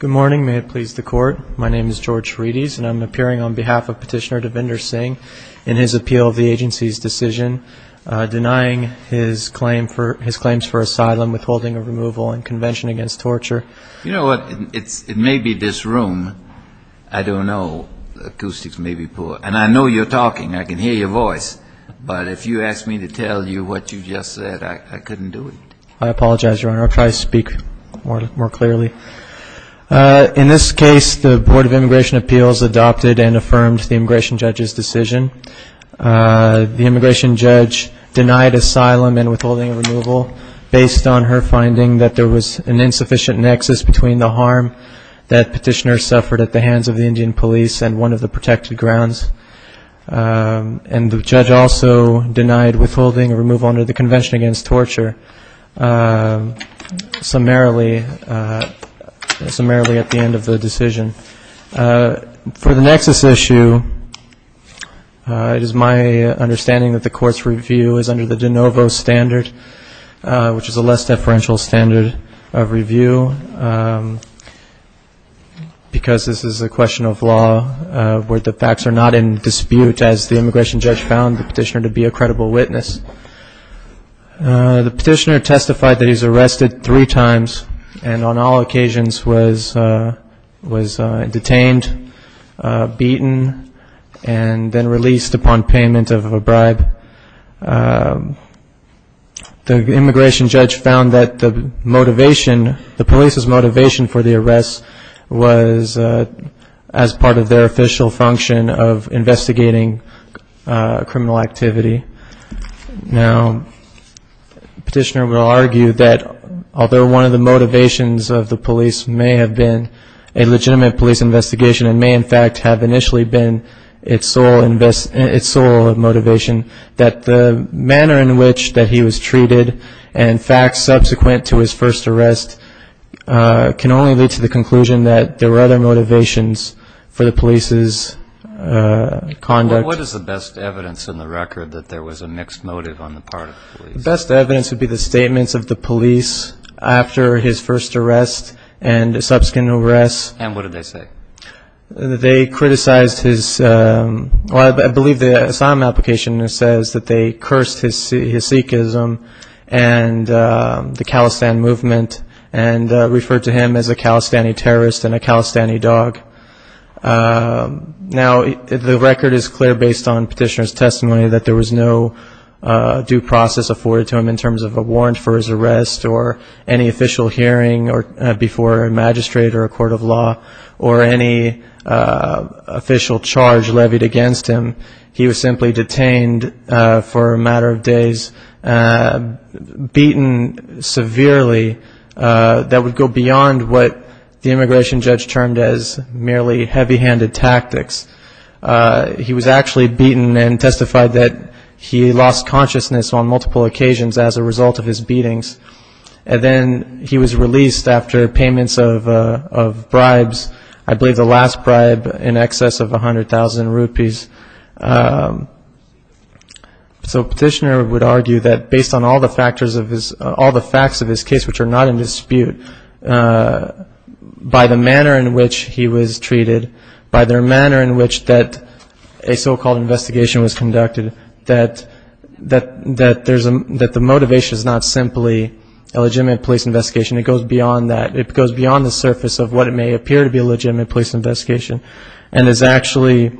Good morning. May it please the court. My name is George Reedes and I'm appearing on behalf of Petitioner Devinder Singh in his appeal of the agency's decision denying his claims for asylum, withholding of removal, and convention against torture. You know what? It may be this room. I don't know. Acoustics may be poor. And I know you're talking. I can hear your voice. But if you ask me to tell you what you just said, I couldn't do it. I apologize, Your Honor. I'll try to speak more clearly. In this case, the Board of Immigration Appeals adopted and affirmed the immigration judge's decision. The immigration judge denied asylum and withholding of removal based on her finding that there was an insufficient nexus between the harm that petitioner suffered at the hands of the Indian police and one of the protected grounds. And the judge also denied withholding of removal under the convention against torture summarily at the end of the decision. For the nexus issue, it is my understanding that the court's review is under the de novo standard, which is a less deferential standard of review, because this is a question of law where the facts are not in dispute, as the immigration judge found the petitioner to be a credible witness. The petitioner testified that he was arrested three times and on all occasions was detained, beaten, and then released upon payment of a bribe. The immigration judge found that the motivation, the police's motivation for the arrest was as part of their official function of investigating criminal activity. Now, the petitioner will argue that although one of the motivations of the police may have been a legitimate police investigation and may in fact have initially been its sole motivation, that the manner in which that he was treated and facts subsequent to his first arrest can only lead to the conclusion that there were other motivations for the police's conduct. And what is the best evidence in the record that there was a mixed motive on the part of the police? The immigration judge found that based on petitioner's testimony that there was no due process afforded to him in terms of a warrant for his arrest or any official hearing before a magistrate or a court of law or any official charge levied against him. He was simply detained for a matter of days, beaten severely that would go beyond what the immigration judge termed as merely heavy-handed tactics. He was actually beaten and testified that he lost consciousness on multiple occasions as a result of his beatings, and then he was released after payments of bribes, I believe the last bribe in excess of 100,000 rupees. So petitioner would argue that based on all the facts of his case which are not in dispute, by the manner in which he was treated, by the manner in which that a so-called investigation was conducted, that the motivation is not simply a legitimate police investigation, it goes beyond that. And it's actually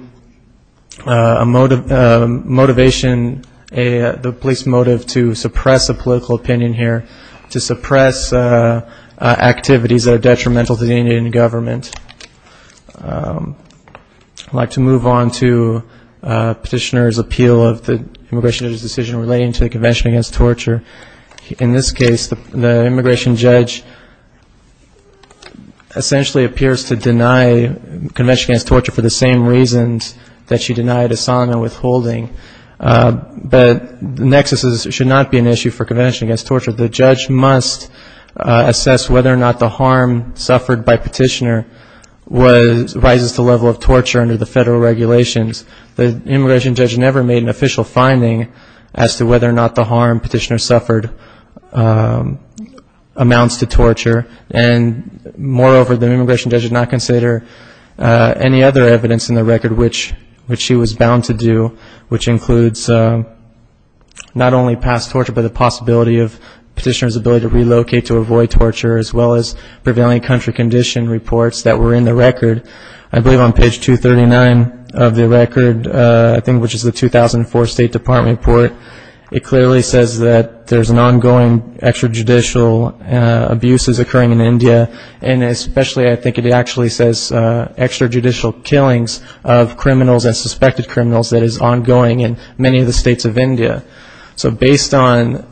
a motivation, the police motive to suppress a political opinion here, to suppress activities that are detrimental to the Indian government. I'd like to move on to petitioner's appeal of the immigration judge's decision relating to the Convention Against Torture. In this case, the immigration judge essentially appears to deny Convention Against Torture for the same reasons that she denied Asana withholding, but nexuses should not be an issue for Convention Against Torture. The judge must assess whether or not the harm suffered by petitioner rises to the level of torture under the federal regulations. The immigration judge never made an official finding as to whether or not the harm petitioner suffered amounts to torture, and moreover, the immigration judge did not consider any other evidence in the record which she was bound to do, which includes not only past torture, but the possibility of petitioner's ability to relocate to avoid torture, as well as prevailing country condition reports that were in the record. I believe on page 239 of the record, I think which is the 2004 State Department report, it clearly says that there's an ongoing extrajudicial abuses occurring in India, and especially I think it actually says extrajudicial killings of criminals and suspected criminals that is ongoing in many of the states of India. So based on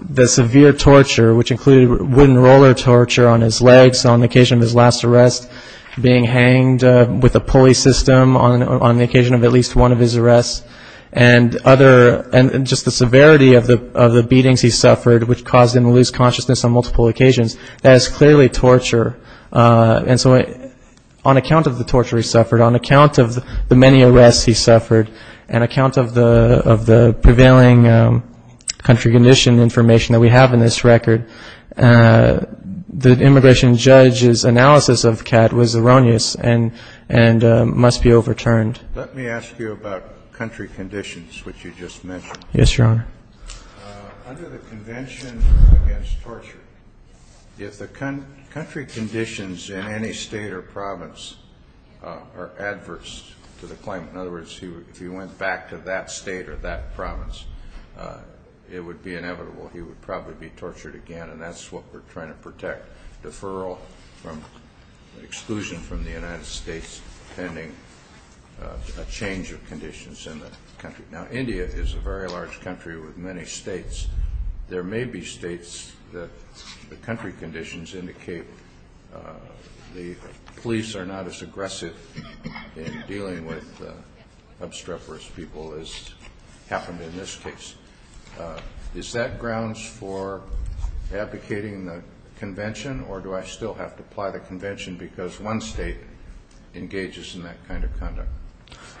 the severe torture, which included wooden roller torture on his legs on the occasion of his last arrest, being hanged with a pulley system on the occasion of at least one of his arrests, and just the severity of the beatings he suffered, which caused him to lose consciousness on multiple occasions, that is clearly torture. And so on account of the torture he suffered, on account of the many arrests he suffered, and account of the prevailing country condition information that we have in this record, the immigration judge's analysis of Kat was erroneous and must be overturned. Let me ask you about country conditions, which you just mentioned. Yes, Your Honor.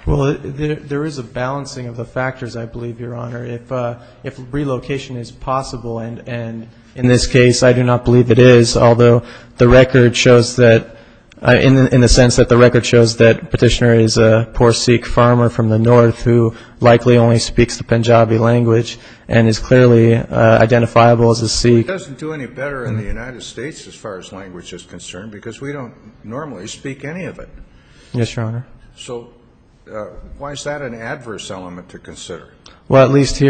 Well, there is a balancing of the factors, I believe, Your Honor. If relocation is possible, and in this case I do not believe it is, although the record shows that, in the sense that the record shows that Petitioner is a poor Sikh farmer from the north who likely only speaks the Punjabi language and is clearly identifiable as a Sikh. It doesn't do any better in the United States as far as language is concerned, because we don't normally speak any of it. Yes, Your Honor. So in theory,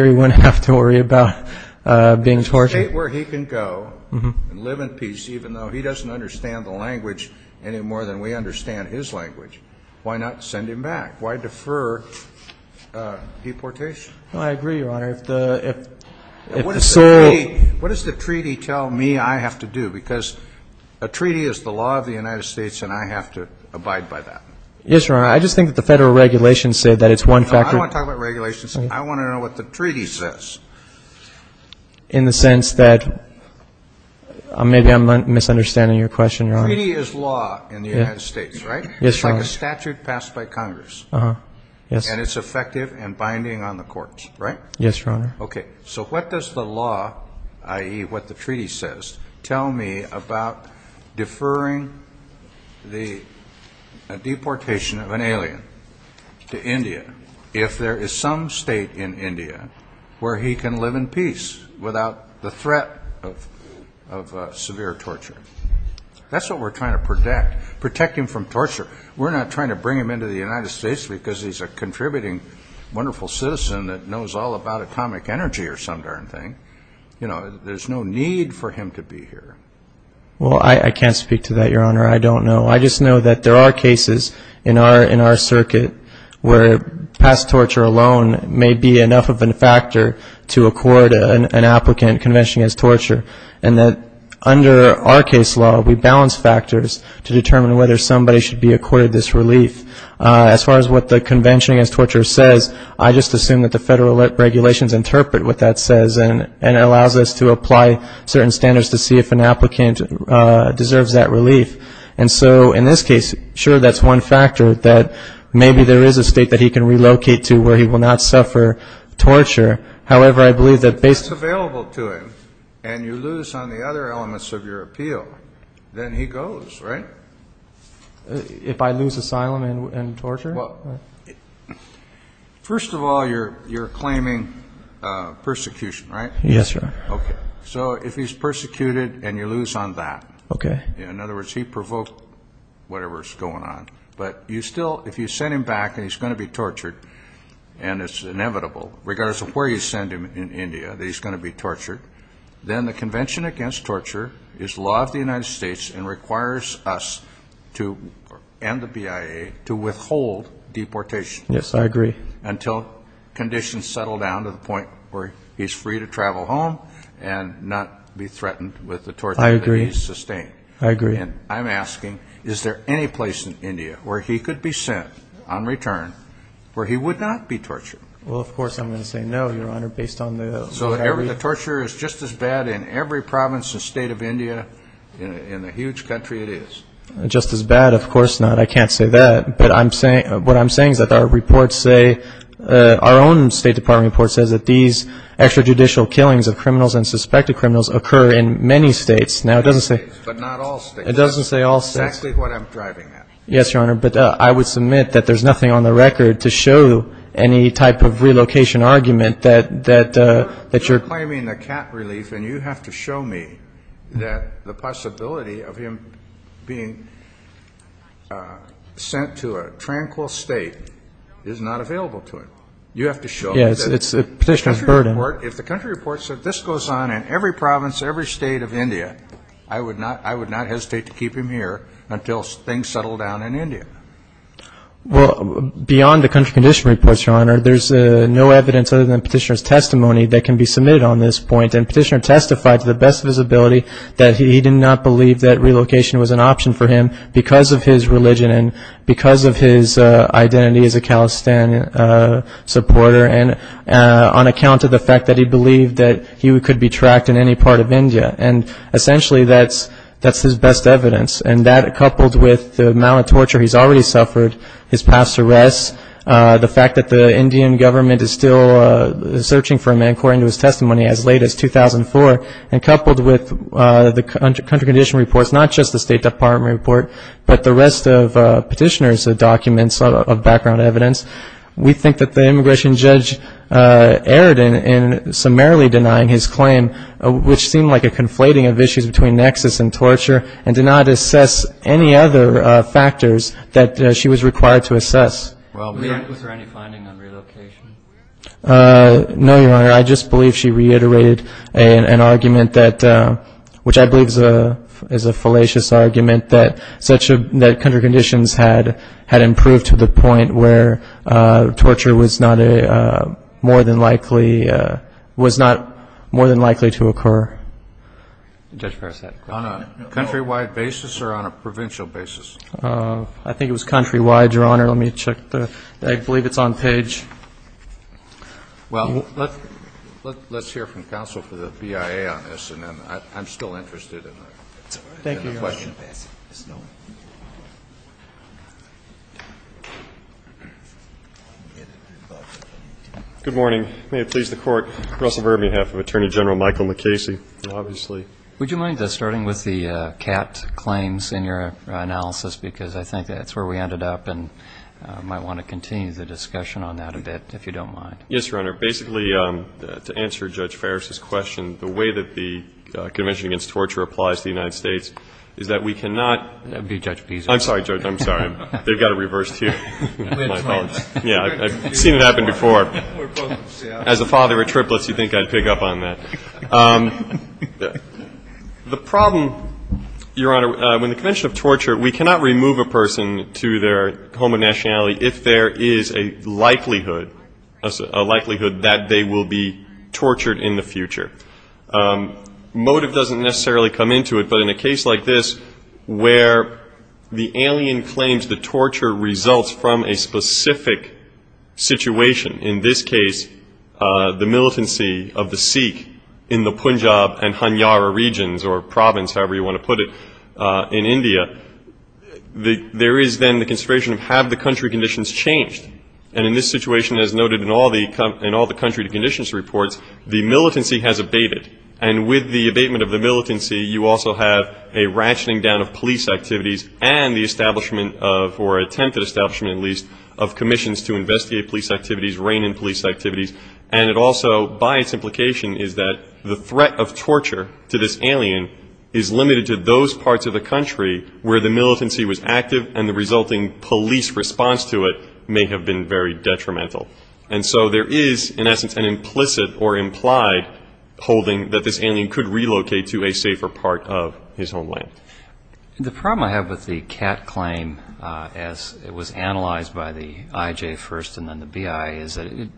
he wouldn't have to worry about being tortured. In a state where he can go and live in peace, even though he doesn't understand the language any more than we understand his language, why not send him back? Why defer deportation? I agree, Your Honor. What does the treaty tell me I have to do? Because a treaty is the law of the United States, and I have to abide by that. Yes, Your Honor. I just think that the federal regulations say that it's one factor. No, I don't want to talk about regulations. I want to know what the treaty says. In the sense that maybe I'm misunderstanding your question, Your Honor. Treaty is law in the United States, right? Yes, Your Honor. Well, I can't speak to that, Your Honor. I don't know. I just know that there are cases in our circuit where past torture alone may be enough of a factor to accord an applicant Convention Against Torture. And that under our case law, we balance factors to determine whether somebody should be accorded this relief. As far as what the Convention Against Torture says, I just assume that the federal regulations interpret what that says and allows us to apply certain standards to see if an applicant deserves that relief. And so in this case, sure, that's one factor, that maybe there is a state that he can relocate to where he will not suffer torture. However, I believe that based on the other elements of your appeal, then he goes, right? If I lose asylum and torture? First of all, you're claiming persecution, right? Yes, Your Honor. Okay, so if he's persecuted and you lose on that, in other words, he provoked whatever's going on. But you still, if you send him back and he's going to be tortured, and it's inevitable, regardless of where you send him in India, that he's going to be tortured. Then the Convention Against Torture is law of the United States and requires us to, and the BIA, to withhold deportation. Yes, I agree. And I'm asking, is there any place in India where he could be sent on return where he would not be tortured? Well, of course I'm going to say no, Your Honor, based on the... So the torture is just as bad in every province and state of India, in the huge country it is? Just as bad? Of course not. I can't say that. But what I'm saying is that our reports say, our own State Department report says that these extrajudicial killings of criminals and suspected criminals occur in many states. Yes, Your Honor, but I would submit that there's nothing on the record to show any type of relocation argument that you're... You're claiming the cat relief and you have to show me that the possibility of him being sent to India, to a tranquil state, is not available to him. You have to show me that... Yes, it's the Petitioner's burden. If the country reports that this goes on in every province, every state of India, I would not hesitate to keep him here until things settle down in India. Well, beyond the country condition reports, Your Honor, there's no evidence other than Petitioner's testimony that can be submitted on this point. Because of his identity as a Khalistan supporter and on account of the fact that he believed that he could be tracked in any part of India. And essentially that's his best evidence. And that, coupled with the amount of torture he's already suffered, his past arrests, the fact that the Indian government is still searching for him, according to his testimony, as late as 2004, and coupled with the country condition reports, not just the State Department report, but the rest of Petitioner's documents of background evidence, we think that the immigration judge erred in summarily denying his claim, which seemed like a conflating of issues between nexus and torture, and did not assess any other factors that she was required to assess. Was there any finding on relocation? No, Your Honor. I just believe she reiterated an argument that, which I believe is a fallacious argument, that country conditions had improved to the point where torture was not more than likely to occur. On a countrywide basis or on a provincial basis? I think it was countrywide, Your Honor. Let me check. I believe it's on page. Well, let's hear from counsel for the BIA on this, and then I'm still interested in the question. Good morning. May it please the Court. Russell Verber, on behalf of Attorney General Michael McCasey, obviously. Would you mind starting with the CAT claims in your analysis, because I think that's where we ended up, and I might want to continue the discussion on that a bit, if you don't mind. Yes, Your Honor. Basically, to answer Judge Farris's question, the way that the Convention Against Torture applies to the United States is that we cannot I'm sorry, Judge, I'm sorry. They've got it reversed here. Yeah, I've seen it happen before. As a father of triplets, you'd think I'd pick up on that. The problem, Your Honor, when the Convention of Torture, we cannot remove a person to their home of nationality if there is a likelihood that they will be tortured in the future. Motive doesn't necessarily come into it, but in a case like this, where the alien claims the torture results from a specific situation, in this case, the militancy of the Sikh in the Punjab and Hanyara regions, or province, however you want to put it, in India, there is then the consideration of have the country conditions changed. And in this situation, as noted in all the country conditions reports, the militancy has abated. And with the abatement of the militancy, you also have a ratcheting down of police activities and the establishment of, or attempted establishment, at least, of commissions to investigate police activities, rein in police activities. And it also, by its implication, is that the threat of torture to this alien is limited to those parts of the country where the militancy was active and the resulting police response to it may have been very detrimental. And so there is, in essence, an implicit or implied holding that this alien could relocate to a safer part of his homeland. The problem I have with the Kat claim, as it was analyzed by the IJ first and then the BI, is that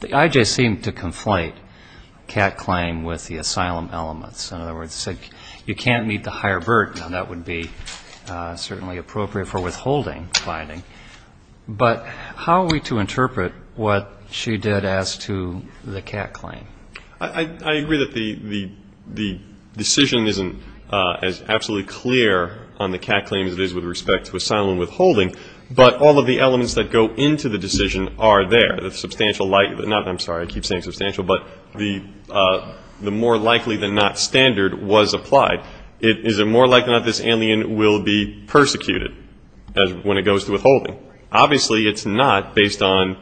the IJ seemed to conflate Kat claim with the asylum elements. In other words, it said you can't meet the higher burden, and that would be certainly appropriate for withholding the finding. But how are we to interpret what she did as to the Kat claim? I agree that the decision isn't as absolutely clear on the Kat claim as it is with respect to asylum withholding, but all of the elements that go into the decision are there. I'm sorry, I keep saying substantial, but the more likely than not standard was applied. Is it more likely than not this alien will be persecuted when it goes to withholding? Obviously, it's not based on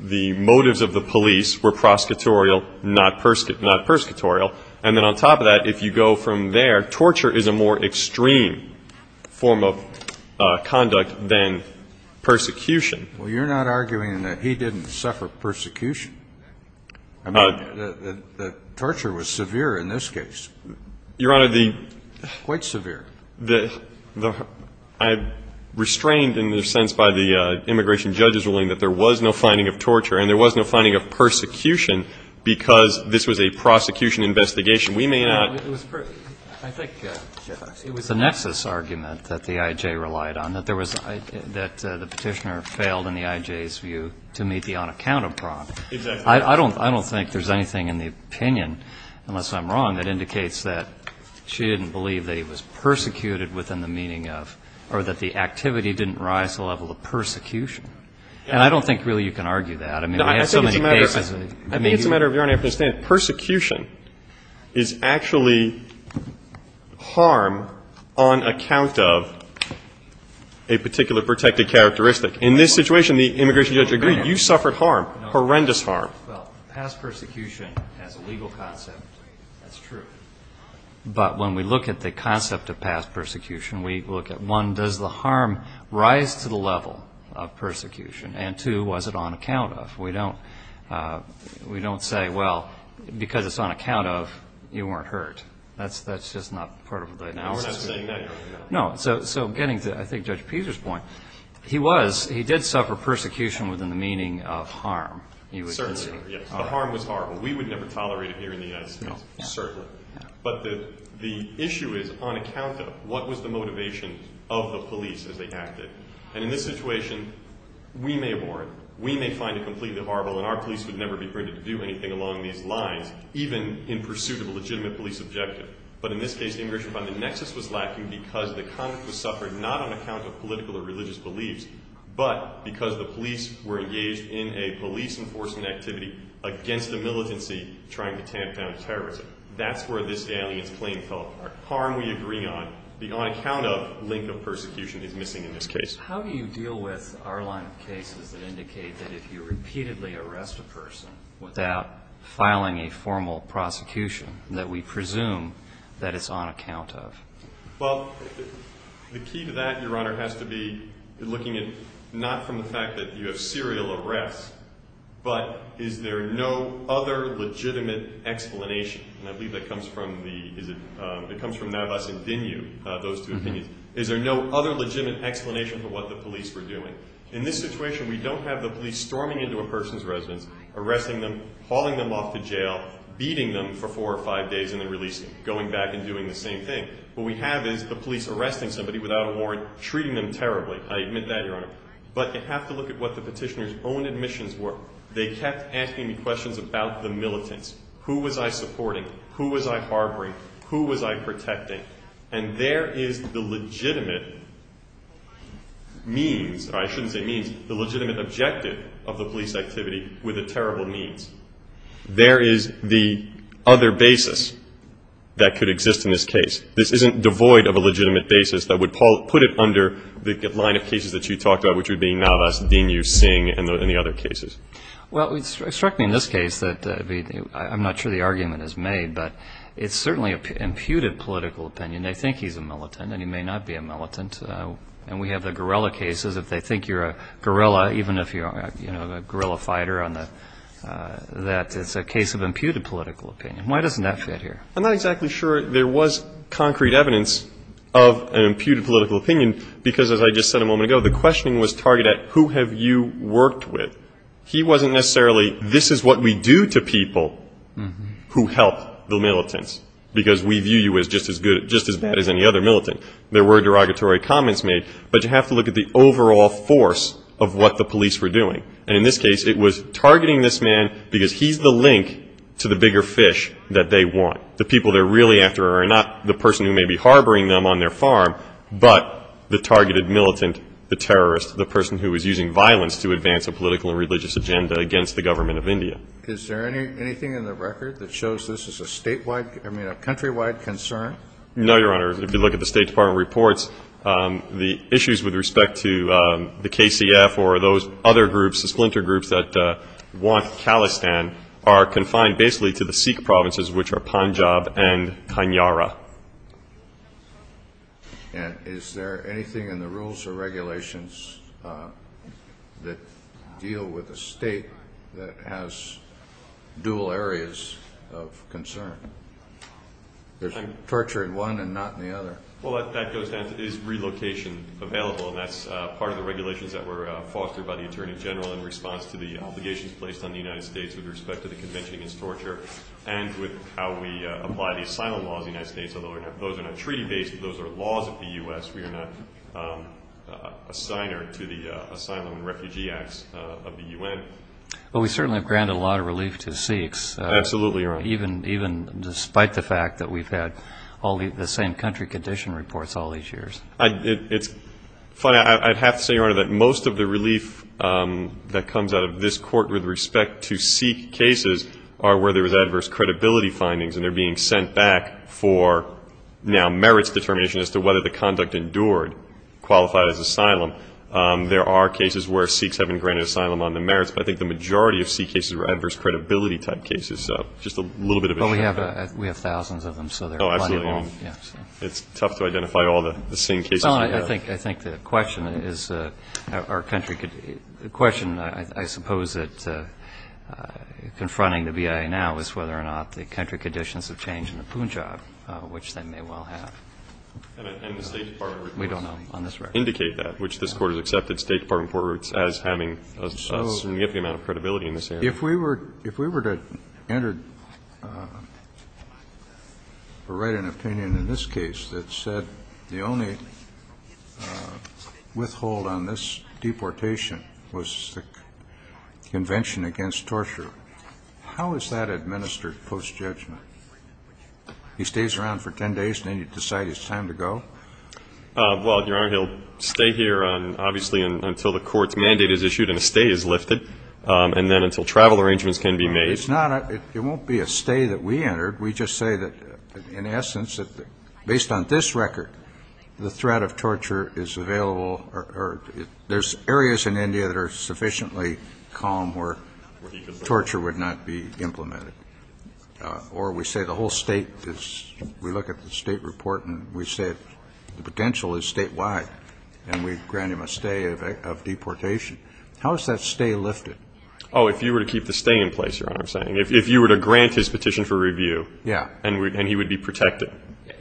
the motives of the police were prosecutorial, not persecutorial. And then on top of that, if you go from there, torture is a more extreme form of conduct than persecution. Well, you're not arguing that he didn't suffer persecution. The torture was severe in this case. Quite severe. I'm restrained, in a sense, by the immigration judge's ruling that there was no finding of torture and there was no finding of persecution because this was a prosecution investigation. We may not. I think it was the nexus argument that the I.J. relied on, that the petitioner failed in the I.J.'s view to meet the on-account of prompt. I don't think there's anything in the opinion, unless I'm wrong, that indicates that she didn't believe that he was persecuted within the meaning of, or that the activity didn't rise to the level of persecution. And I don't think really you can argue that. I think it's a matter of your own understanding. Persecution is actually harm on account of a particular protected characteristic. In this situation, the immigration judge agreed. You suffered harm, horrendous harm. Well, past persecution as a legal concept, that's true. But when we look at the concept of past persecution, we look at, one, does the harm rise to the level of persecution? And, two, was it on account of? We don't say, well, because it's on account of, you weren't hurt. That's just not part of the analysis. No, so getting to, I think, Judge Peter's point, he did suffer persecution within the meaning of harm. Certainly, yes. The harm was horrible. We would never tolerate it here in the United States. No, certainly. But the issue is on account of what was the motivation of the police as they acted. And in this situation, we may abhor it. We may find it completely horrible, and our police would never be permitted to do anything along these lines, even in pursuit of a legitimate police objective. But in this case, the immigration fund, the nexus was lacking because the conduct was suffered not on account of political or religious beliefs, but because the police were engaged in a police enforcement activity against the militancy trying to tamp down terrorism. That's where this galley is playing telephone. The harm we agree on, the on account of link of persecution is missing in this case. How do you deal with our line of cases that indicate that if you repeatedly arrest a person without filing a formal prosecution that we presume that it's on account of? Well, the key to that, Your Honor, has to be looking at not from the fact that you have serial arrests, but is there no other legitimate explanation? And I believe that comes from Navas and Dinu, those two opinions. Is there no other legitimate explanation for what the police were doing? In this situation, we don't have the police storming into a person's residence, arresting them, hauling them off to jail, beating them for four or five days, and then releasing them, going back and doing the same thing. What we have is the police arresting somebody without a warrant, treating them terribly. I admit that, Your Honor. But you have to look at what the petitioner's own admissions were. They kept asking me questions about the militants. Who was I supporting? That could exist in this case. This isn't devoid of a legitimate basis that would put it under the line of cases that you talked about, which would be Navas, Dinu, Singh, and the other cases. Well, it struck me in this case that I'm not sure the argument is made, but it's certainly an imputed political opinion. They think he's a militant, and he may not be a militant. And we have the guerrilla cases. If they think you're a guerrilla, even if you're a guerrilla fighter, that it's a case of imputed political opinion. Why doesn't that fit here? I'm not exactly sure there was concrete evidence of an imputed political opinion, because as I just said a moment ago, the questioning was targeted at who have you worked with. He wasn't necessarily this is what we do to people who help the militants, because we view you as just as bad as any other militant. There were derogatory comments made, but you have to look at the overall force of what the police were doing. And in this case, it was targeting this man, because he's the link to the bigger fish that they want. The people they're really after are not the person who may be harboring them on their farm, but the targeted militant, the terrorist, the person who is using violence to advance a political and religious agenda against the government of India. Is there anything in the record that shows this is a statewide, I mean a countrywide concern? No, Your Honor. If you look at the State Department reports, the issues with respect to the KCF or those other groups, the splinter groups that want Khalistan are confined basically to the Sikh provinces, which are Punjab and Kanyara. And is there anything in the rules or regulations that deal with a state that has dual areas of concern? There's torture in one and not in the other. Well, that goes down to is relocation available, and that's part of the regulations that were fostered by the Attorney General in response to the obligations placed on the United States with respect to the Convention Against Torture and with how we apply the asylum laws in the United States. Those are not treaty-based. Those are laws of the U.S. We are not a signer to the Asylum and Refugee Acts of the U.N. Well, we certainly have granted a lot of relief to Sikhs. Absolutely, Your Honor. Even despite the fact that we've had all the same country condition reports all these years. It's funny. I'd have to say, Your Honor, that most of the relief that comes out of this Court with respect to Sikh cases are where there was adverse credibility findings, and they're being sent back for now merits determination as to whether the conduct endured qualified as asylum. There are cases where Sikhs have been granted asylum on the merits, but I think the majority of Sikh cases were adverse credibility type cases. So just a little bit of a shortcut. Well, we have thousands of them, so they're plentiful. Oh, absolutely. It's tough to identify all the same cases. Well, I think the question is our country could be the question, I suppose, that confronting the BIA now is whether or not the country conditions have changed in the Punjab, which they may well have. And the State Department reports indicate that, which this Court has accepted State Department court reports as having a significant amount of credibility in this area. If we were to enter or write an opinion in this case that said the only withhold on this deportation was the Convention Against Torture, how is that administered post-judgment? He stays around for 10 days, and then you decide it's time to go? Well, Your Honor, he'll stay here, obviously, until the court's mandate is issued and a stay is lifted, and then until travel arrangements can be made. It won't be a stay that we entered. We just say that, in essence, based on this record, the threat of torture is available or there's areas in India that are sufficiently calm where torture would not be implemented. Or we say the whole state is we look at the state report and we say the potential is statewide, and we grant him a stay of deportation. How is that stay lifted? Oh, if you were to keep the stay in place, Your Honor, I'm saying. If you were to grant his petition for review and he would be protected.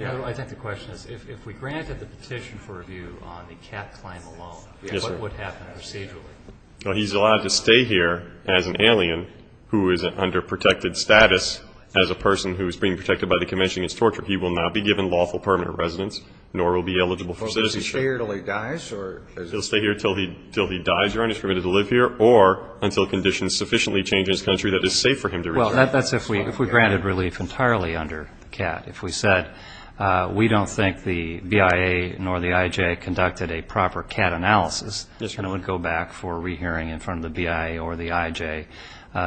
I think the question is, if we granted the petition for review on the cat climb alone, what would happen procedurally? He's allowed to stay here as an alien who is under protected status as a person who is being protected by the Convention Against Torture. He will not be given lawful permanent residence, nor will be eligible for citizenship. Does he stay here until he dies? He'll stay here until he dies, Your Honor, he's permitted to live here, or until conditions sufficiently change in his country that it's safe for him to retire. Well, that's if we granted relief entirely under the cat. If we said we don't think the BIA nor the IJ conducted a proper cat analysis, then it would go back for a rehearing in front of the BIA or the IJ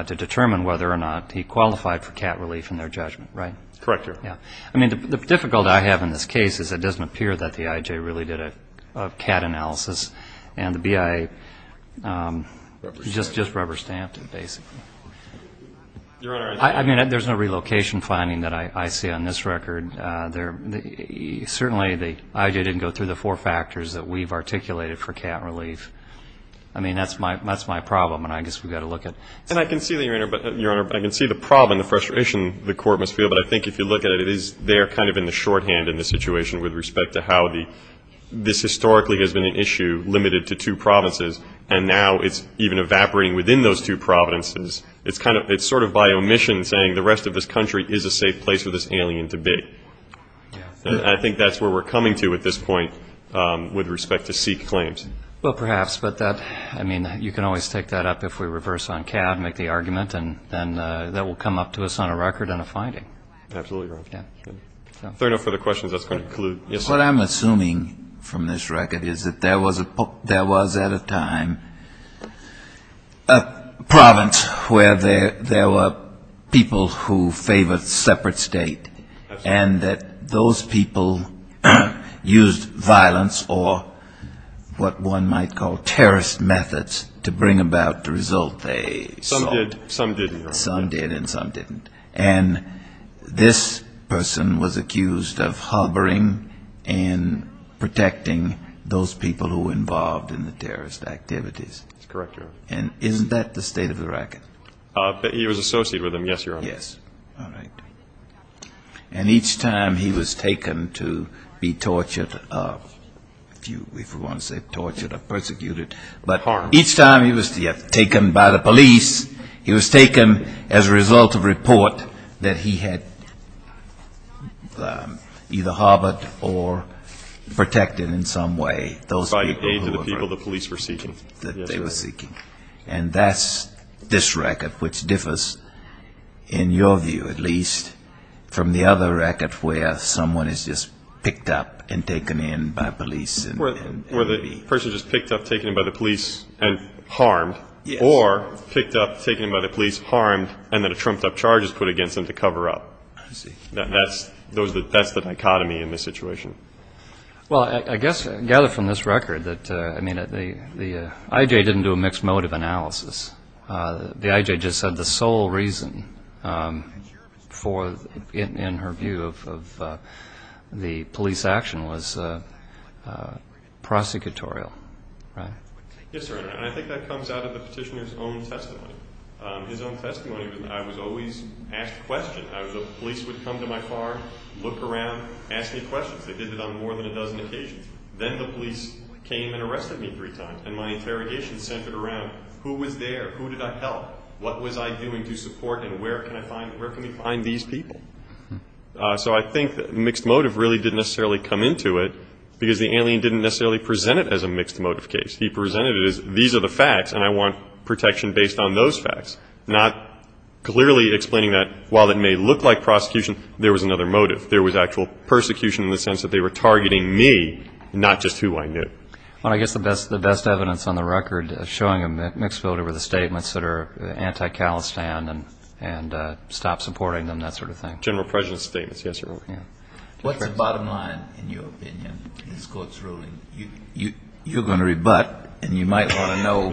to determine whether or not he qualified for cat relief in their judgment, right? Correct, Your Honor. Yeah. I mean, the difficulty I have in this case is it doesn't appear that the IJ really did a cat analysis and the BIA just rubber-stamped it, basically. Your Honor. I mean, there's no relocation finding that I see on this record. Certainly, the IJ didn't go through the four factors that we've articulated for cat relief. I mean, that's my problem, and I guess we've got to look at it. And I can see, Your Honor, I can see the problem and the frustration the Court must feel, but I think if you look at it, it is there kind of in the shorthand in this situation with respect to how this historically has been an issue limited to two provinces, and now it's even evaporating within those two provinces. It's sort of by omission saying the rest of this country is a safe place for this alien to be. I think that's where we're coming to at this point with respect to seek claims. Well, perhaps, but that, I mean, you can always take that up if we reverse on cat and make the argument, and then that will come up to us on a record and a finding. Absolutely, Your Honor. If there are no further questions, that's going to conclude. What I'm assuming from this record is that there was, at a time, a province where there were people who favored a separate state and that those people used violence or what one might call terrorist methods to bring about the result. Some did, Your Honor. Some did and some didn't. And this person was accused of harboring and protecting those people who were involved in the terrorist activities. That's correct, Your Honor. And isn't that the state of the record? He was associated with them, yes, Your Honor. Yes. All right. And each time he was taken to be tortured, if you want to say tortured or persecuted, but each time he was taken by the police, he was taken as a result of a report that he had either harbored or protected in some way those people. By the aid of the people the police were seeking. That they were seeking. And that's this record, which differs, in your view at least, from the other record where someone is just picked up and taken in by police. Where the person is just picked up, taken in by the police and harmed. Or picked up, taken in by the police, harmed, and then a trumped-up charge is put against them to cover up. That's the dichotomy in this situation. Well, I guess, gathered from this record, the IJ didn't do a mixed motive analysis. The IJ just said the sole reason in her view of the police action was prosecutorial. Yes, sir. And I think that comes out of the petitioner's own testimony. His own testimony was I was always asked questions. The police would come to my car, look around, ask me questions. They did it on more than a dozen occasions. Then the police came and arrested me three times. And my interrogation centered around who was there, who did I help, what was I doing to support, and where can I find, where can we find these people? So I think mixed motive really didn't necessarily come into it, because the alien didn't necessarily present it as a mixed motive case. He presented it as these are the facts, and I want protection based on those facts. Not clearly explaining that while it may look like prosecution, there was another motive. There was actual persecution in the sense that they were targeting me, not just who I knew. Well, I guess the best evidence on the record showing a mixed motive were the statements that are anti-Calistan and stop supporting them, that sort of thing. General presence statements, yes, Your Honor. What's the bottom line, in your opinion, in this court's ruling? You're going to rebut, and you might want to know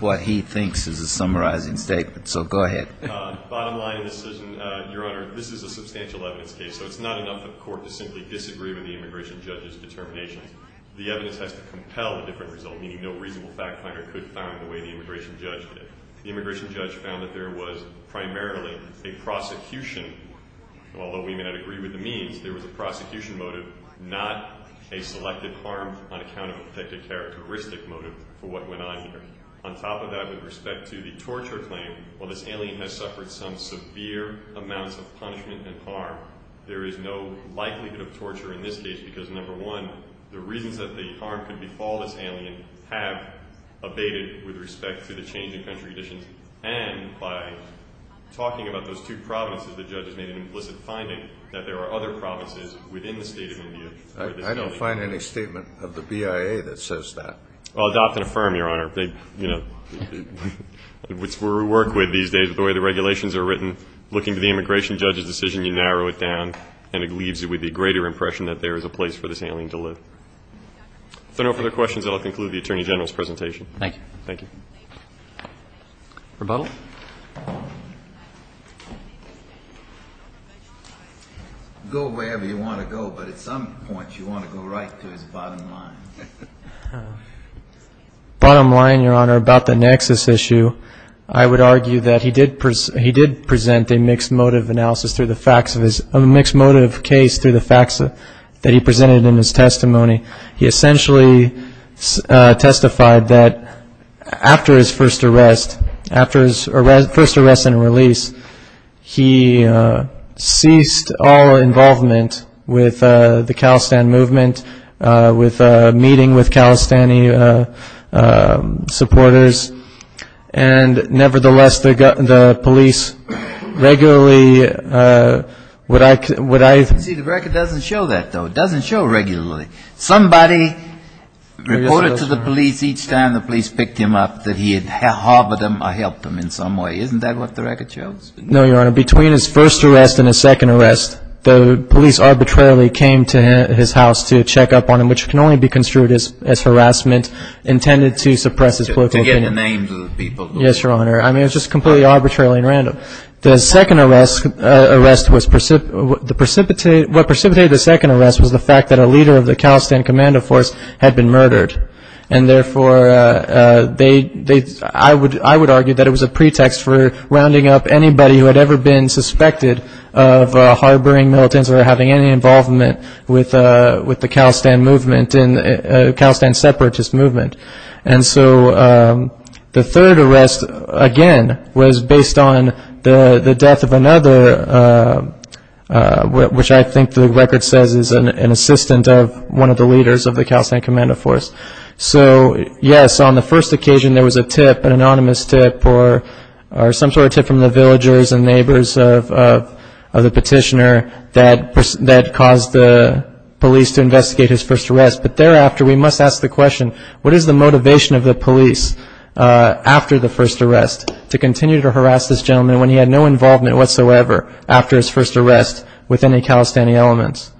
what he thinks is a summarizing statement. So go ahead. Bottom line of the decision, Your Honor, this is a substantial evidence case, so it's not enough for the court to simply disagree with the immigration judge's determination. The evidence has to compel a different result, meaning no reasonable fact finder could find the way the immigration judge did. The immigration judge found that there was primarily a prosecution, although we may not agree with the means, there was a prosecution motive, not a selective harm on account of a protected characteristic motive for what went on here. On top of that, with respect to the torture claim, while this alien has suffered some severe amounts of punishment and harm, there is no likelihood of torture in this case because, number one, the reasons that the harm could be called as alien have abated with respect to the change in country conditions. And by talking about those two provinces, the judge has made an implicit finding that there are other provinces within the state of India where this alien is. I don't find any statement of the BIA that says that. Well, adopt and affirm, Your Honor, which we work with these days, the way the regulations are written. Looking to the immigration judge's decision, you narrow it down, and it leaves you with the greater impression that there is a place for this alien to live. If there are no further questions, I'll conclude the Attorney General's presentation. Thank you. Thank you. Rebuttal. Go wherever you want to go, but at some point you want to go right to his bottom line. Bottom line, Your Honor, about the nexus issue, I would argue that he did present a mixed motive case through the facts that he presented in his testimony. He essentially testified that after his first arrest and release, he ceased all involvement with the Khalistan movement, meeting with Khalistani supporters. And nevertheless, the police regularly would I ---- You see, the record doesn't show that, though. It doesn't show regularly. Somebody reported to the police each time the police picked him up that he had harbored them or helped them in some way. No, Your Honor. Between his first arrest and his second arrest, the police arbitrarily came to his house to check up on him, which can only be construed as harassment intended to suppress his political opinion. To get the names of the people. Yes, Your Honor. I mean, it was just completely arbitrarily and random. The second arrest was ---- What precipitated the second arrest was the fact that a leader of the Khalistan Commando Force had been murdered. And, therefore, they ---- I would argue that it was a pretext for rounding up anybody who had ever been suspected of harboring militants or having any involvement with the Khalistan movement and the Khalistan separatist movement. And so the third arrest, again, was based on the death of another, which I think the record says is an assistant of one of the leaders of the Khalistan Commando Force. So, yes, on the first occasion, there was a tip, an anonymous tip, or some sort of tip from the villagers and neighbors of the petitioner that caused the police to investigate his first arrest. But thereafter, we must ask the question, what is the motivation of the police after the first arrest to continue to harass this gentleman when he had no involvement whatsoever after his first arrest with any Khalistani elements?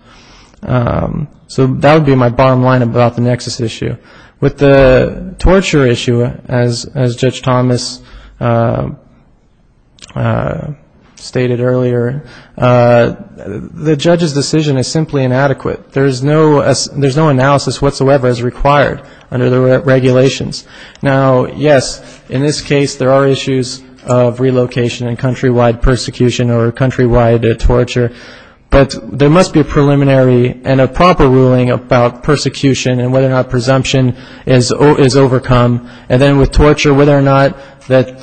So that would be my bottom line about the nexus issue. With the torture issue, as Judge Thomas stated earlier, the judge's decision is simply inadequate. There's no analysis whatsoever as required under the regulations. Now, yes, in this case, there are issues of relocation and countrywide persecution or countrywide torture, but there must be a preliminary and a proper ruling about persecution and whether or not presumption is overcome. And then with torture, whether or not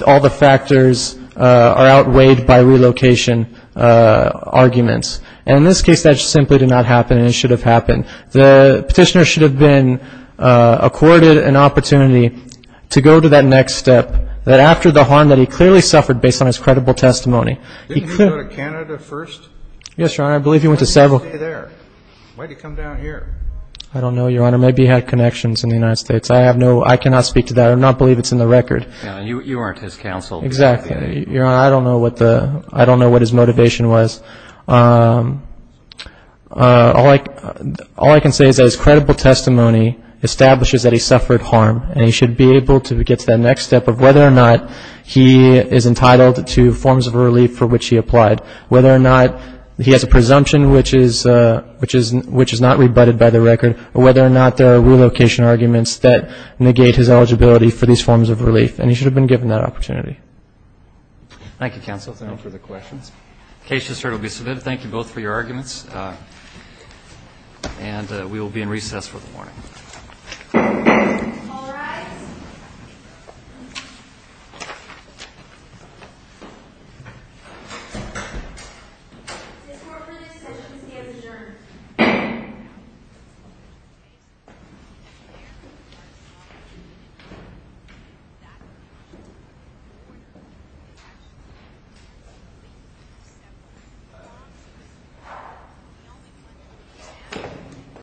all the factors are outweighed by relocation arguments. And in this case, that simply did not happen and it should have happened. The petitioner should have been accorded an opportunity to go to that next step, that after the harm that he clearly suffered based on his credible testimony. Didn't he go to Canada first? Yes, Your Honor. I believe he went to several. Why did he stay there? Why did he come down here? I don't know, Your Honor. Maybe he had connections in the United States. I have no, I cannot speak to that. I do not believe it's in the record. You aren't his counsel. Exactly. Your Honor, I don't know what the, I don't know what his motivation was. All I can say is that his credible testimony establishes that he suffered harm and he should be able to get to that next step of whether or not he is entitled to forms of relief for which he applied, whether or not he has a presumption which is not rebutted by the record, or whether or not there are relocation arguments that negate his eligibility for these forms of relief. And he should have been given that opportunity. Thank you, Counsel, for the questions. The case has been submitted. Thank you both for your arguments. And we will be in recess for the morning. All rise.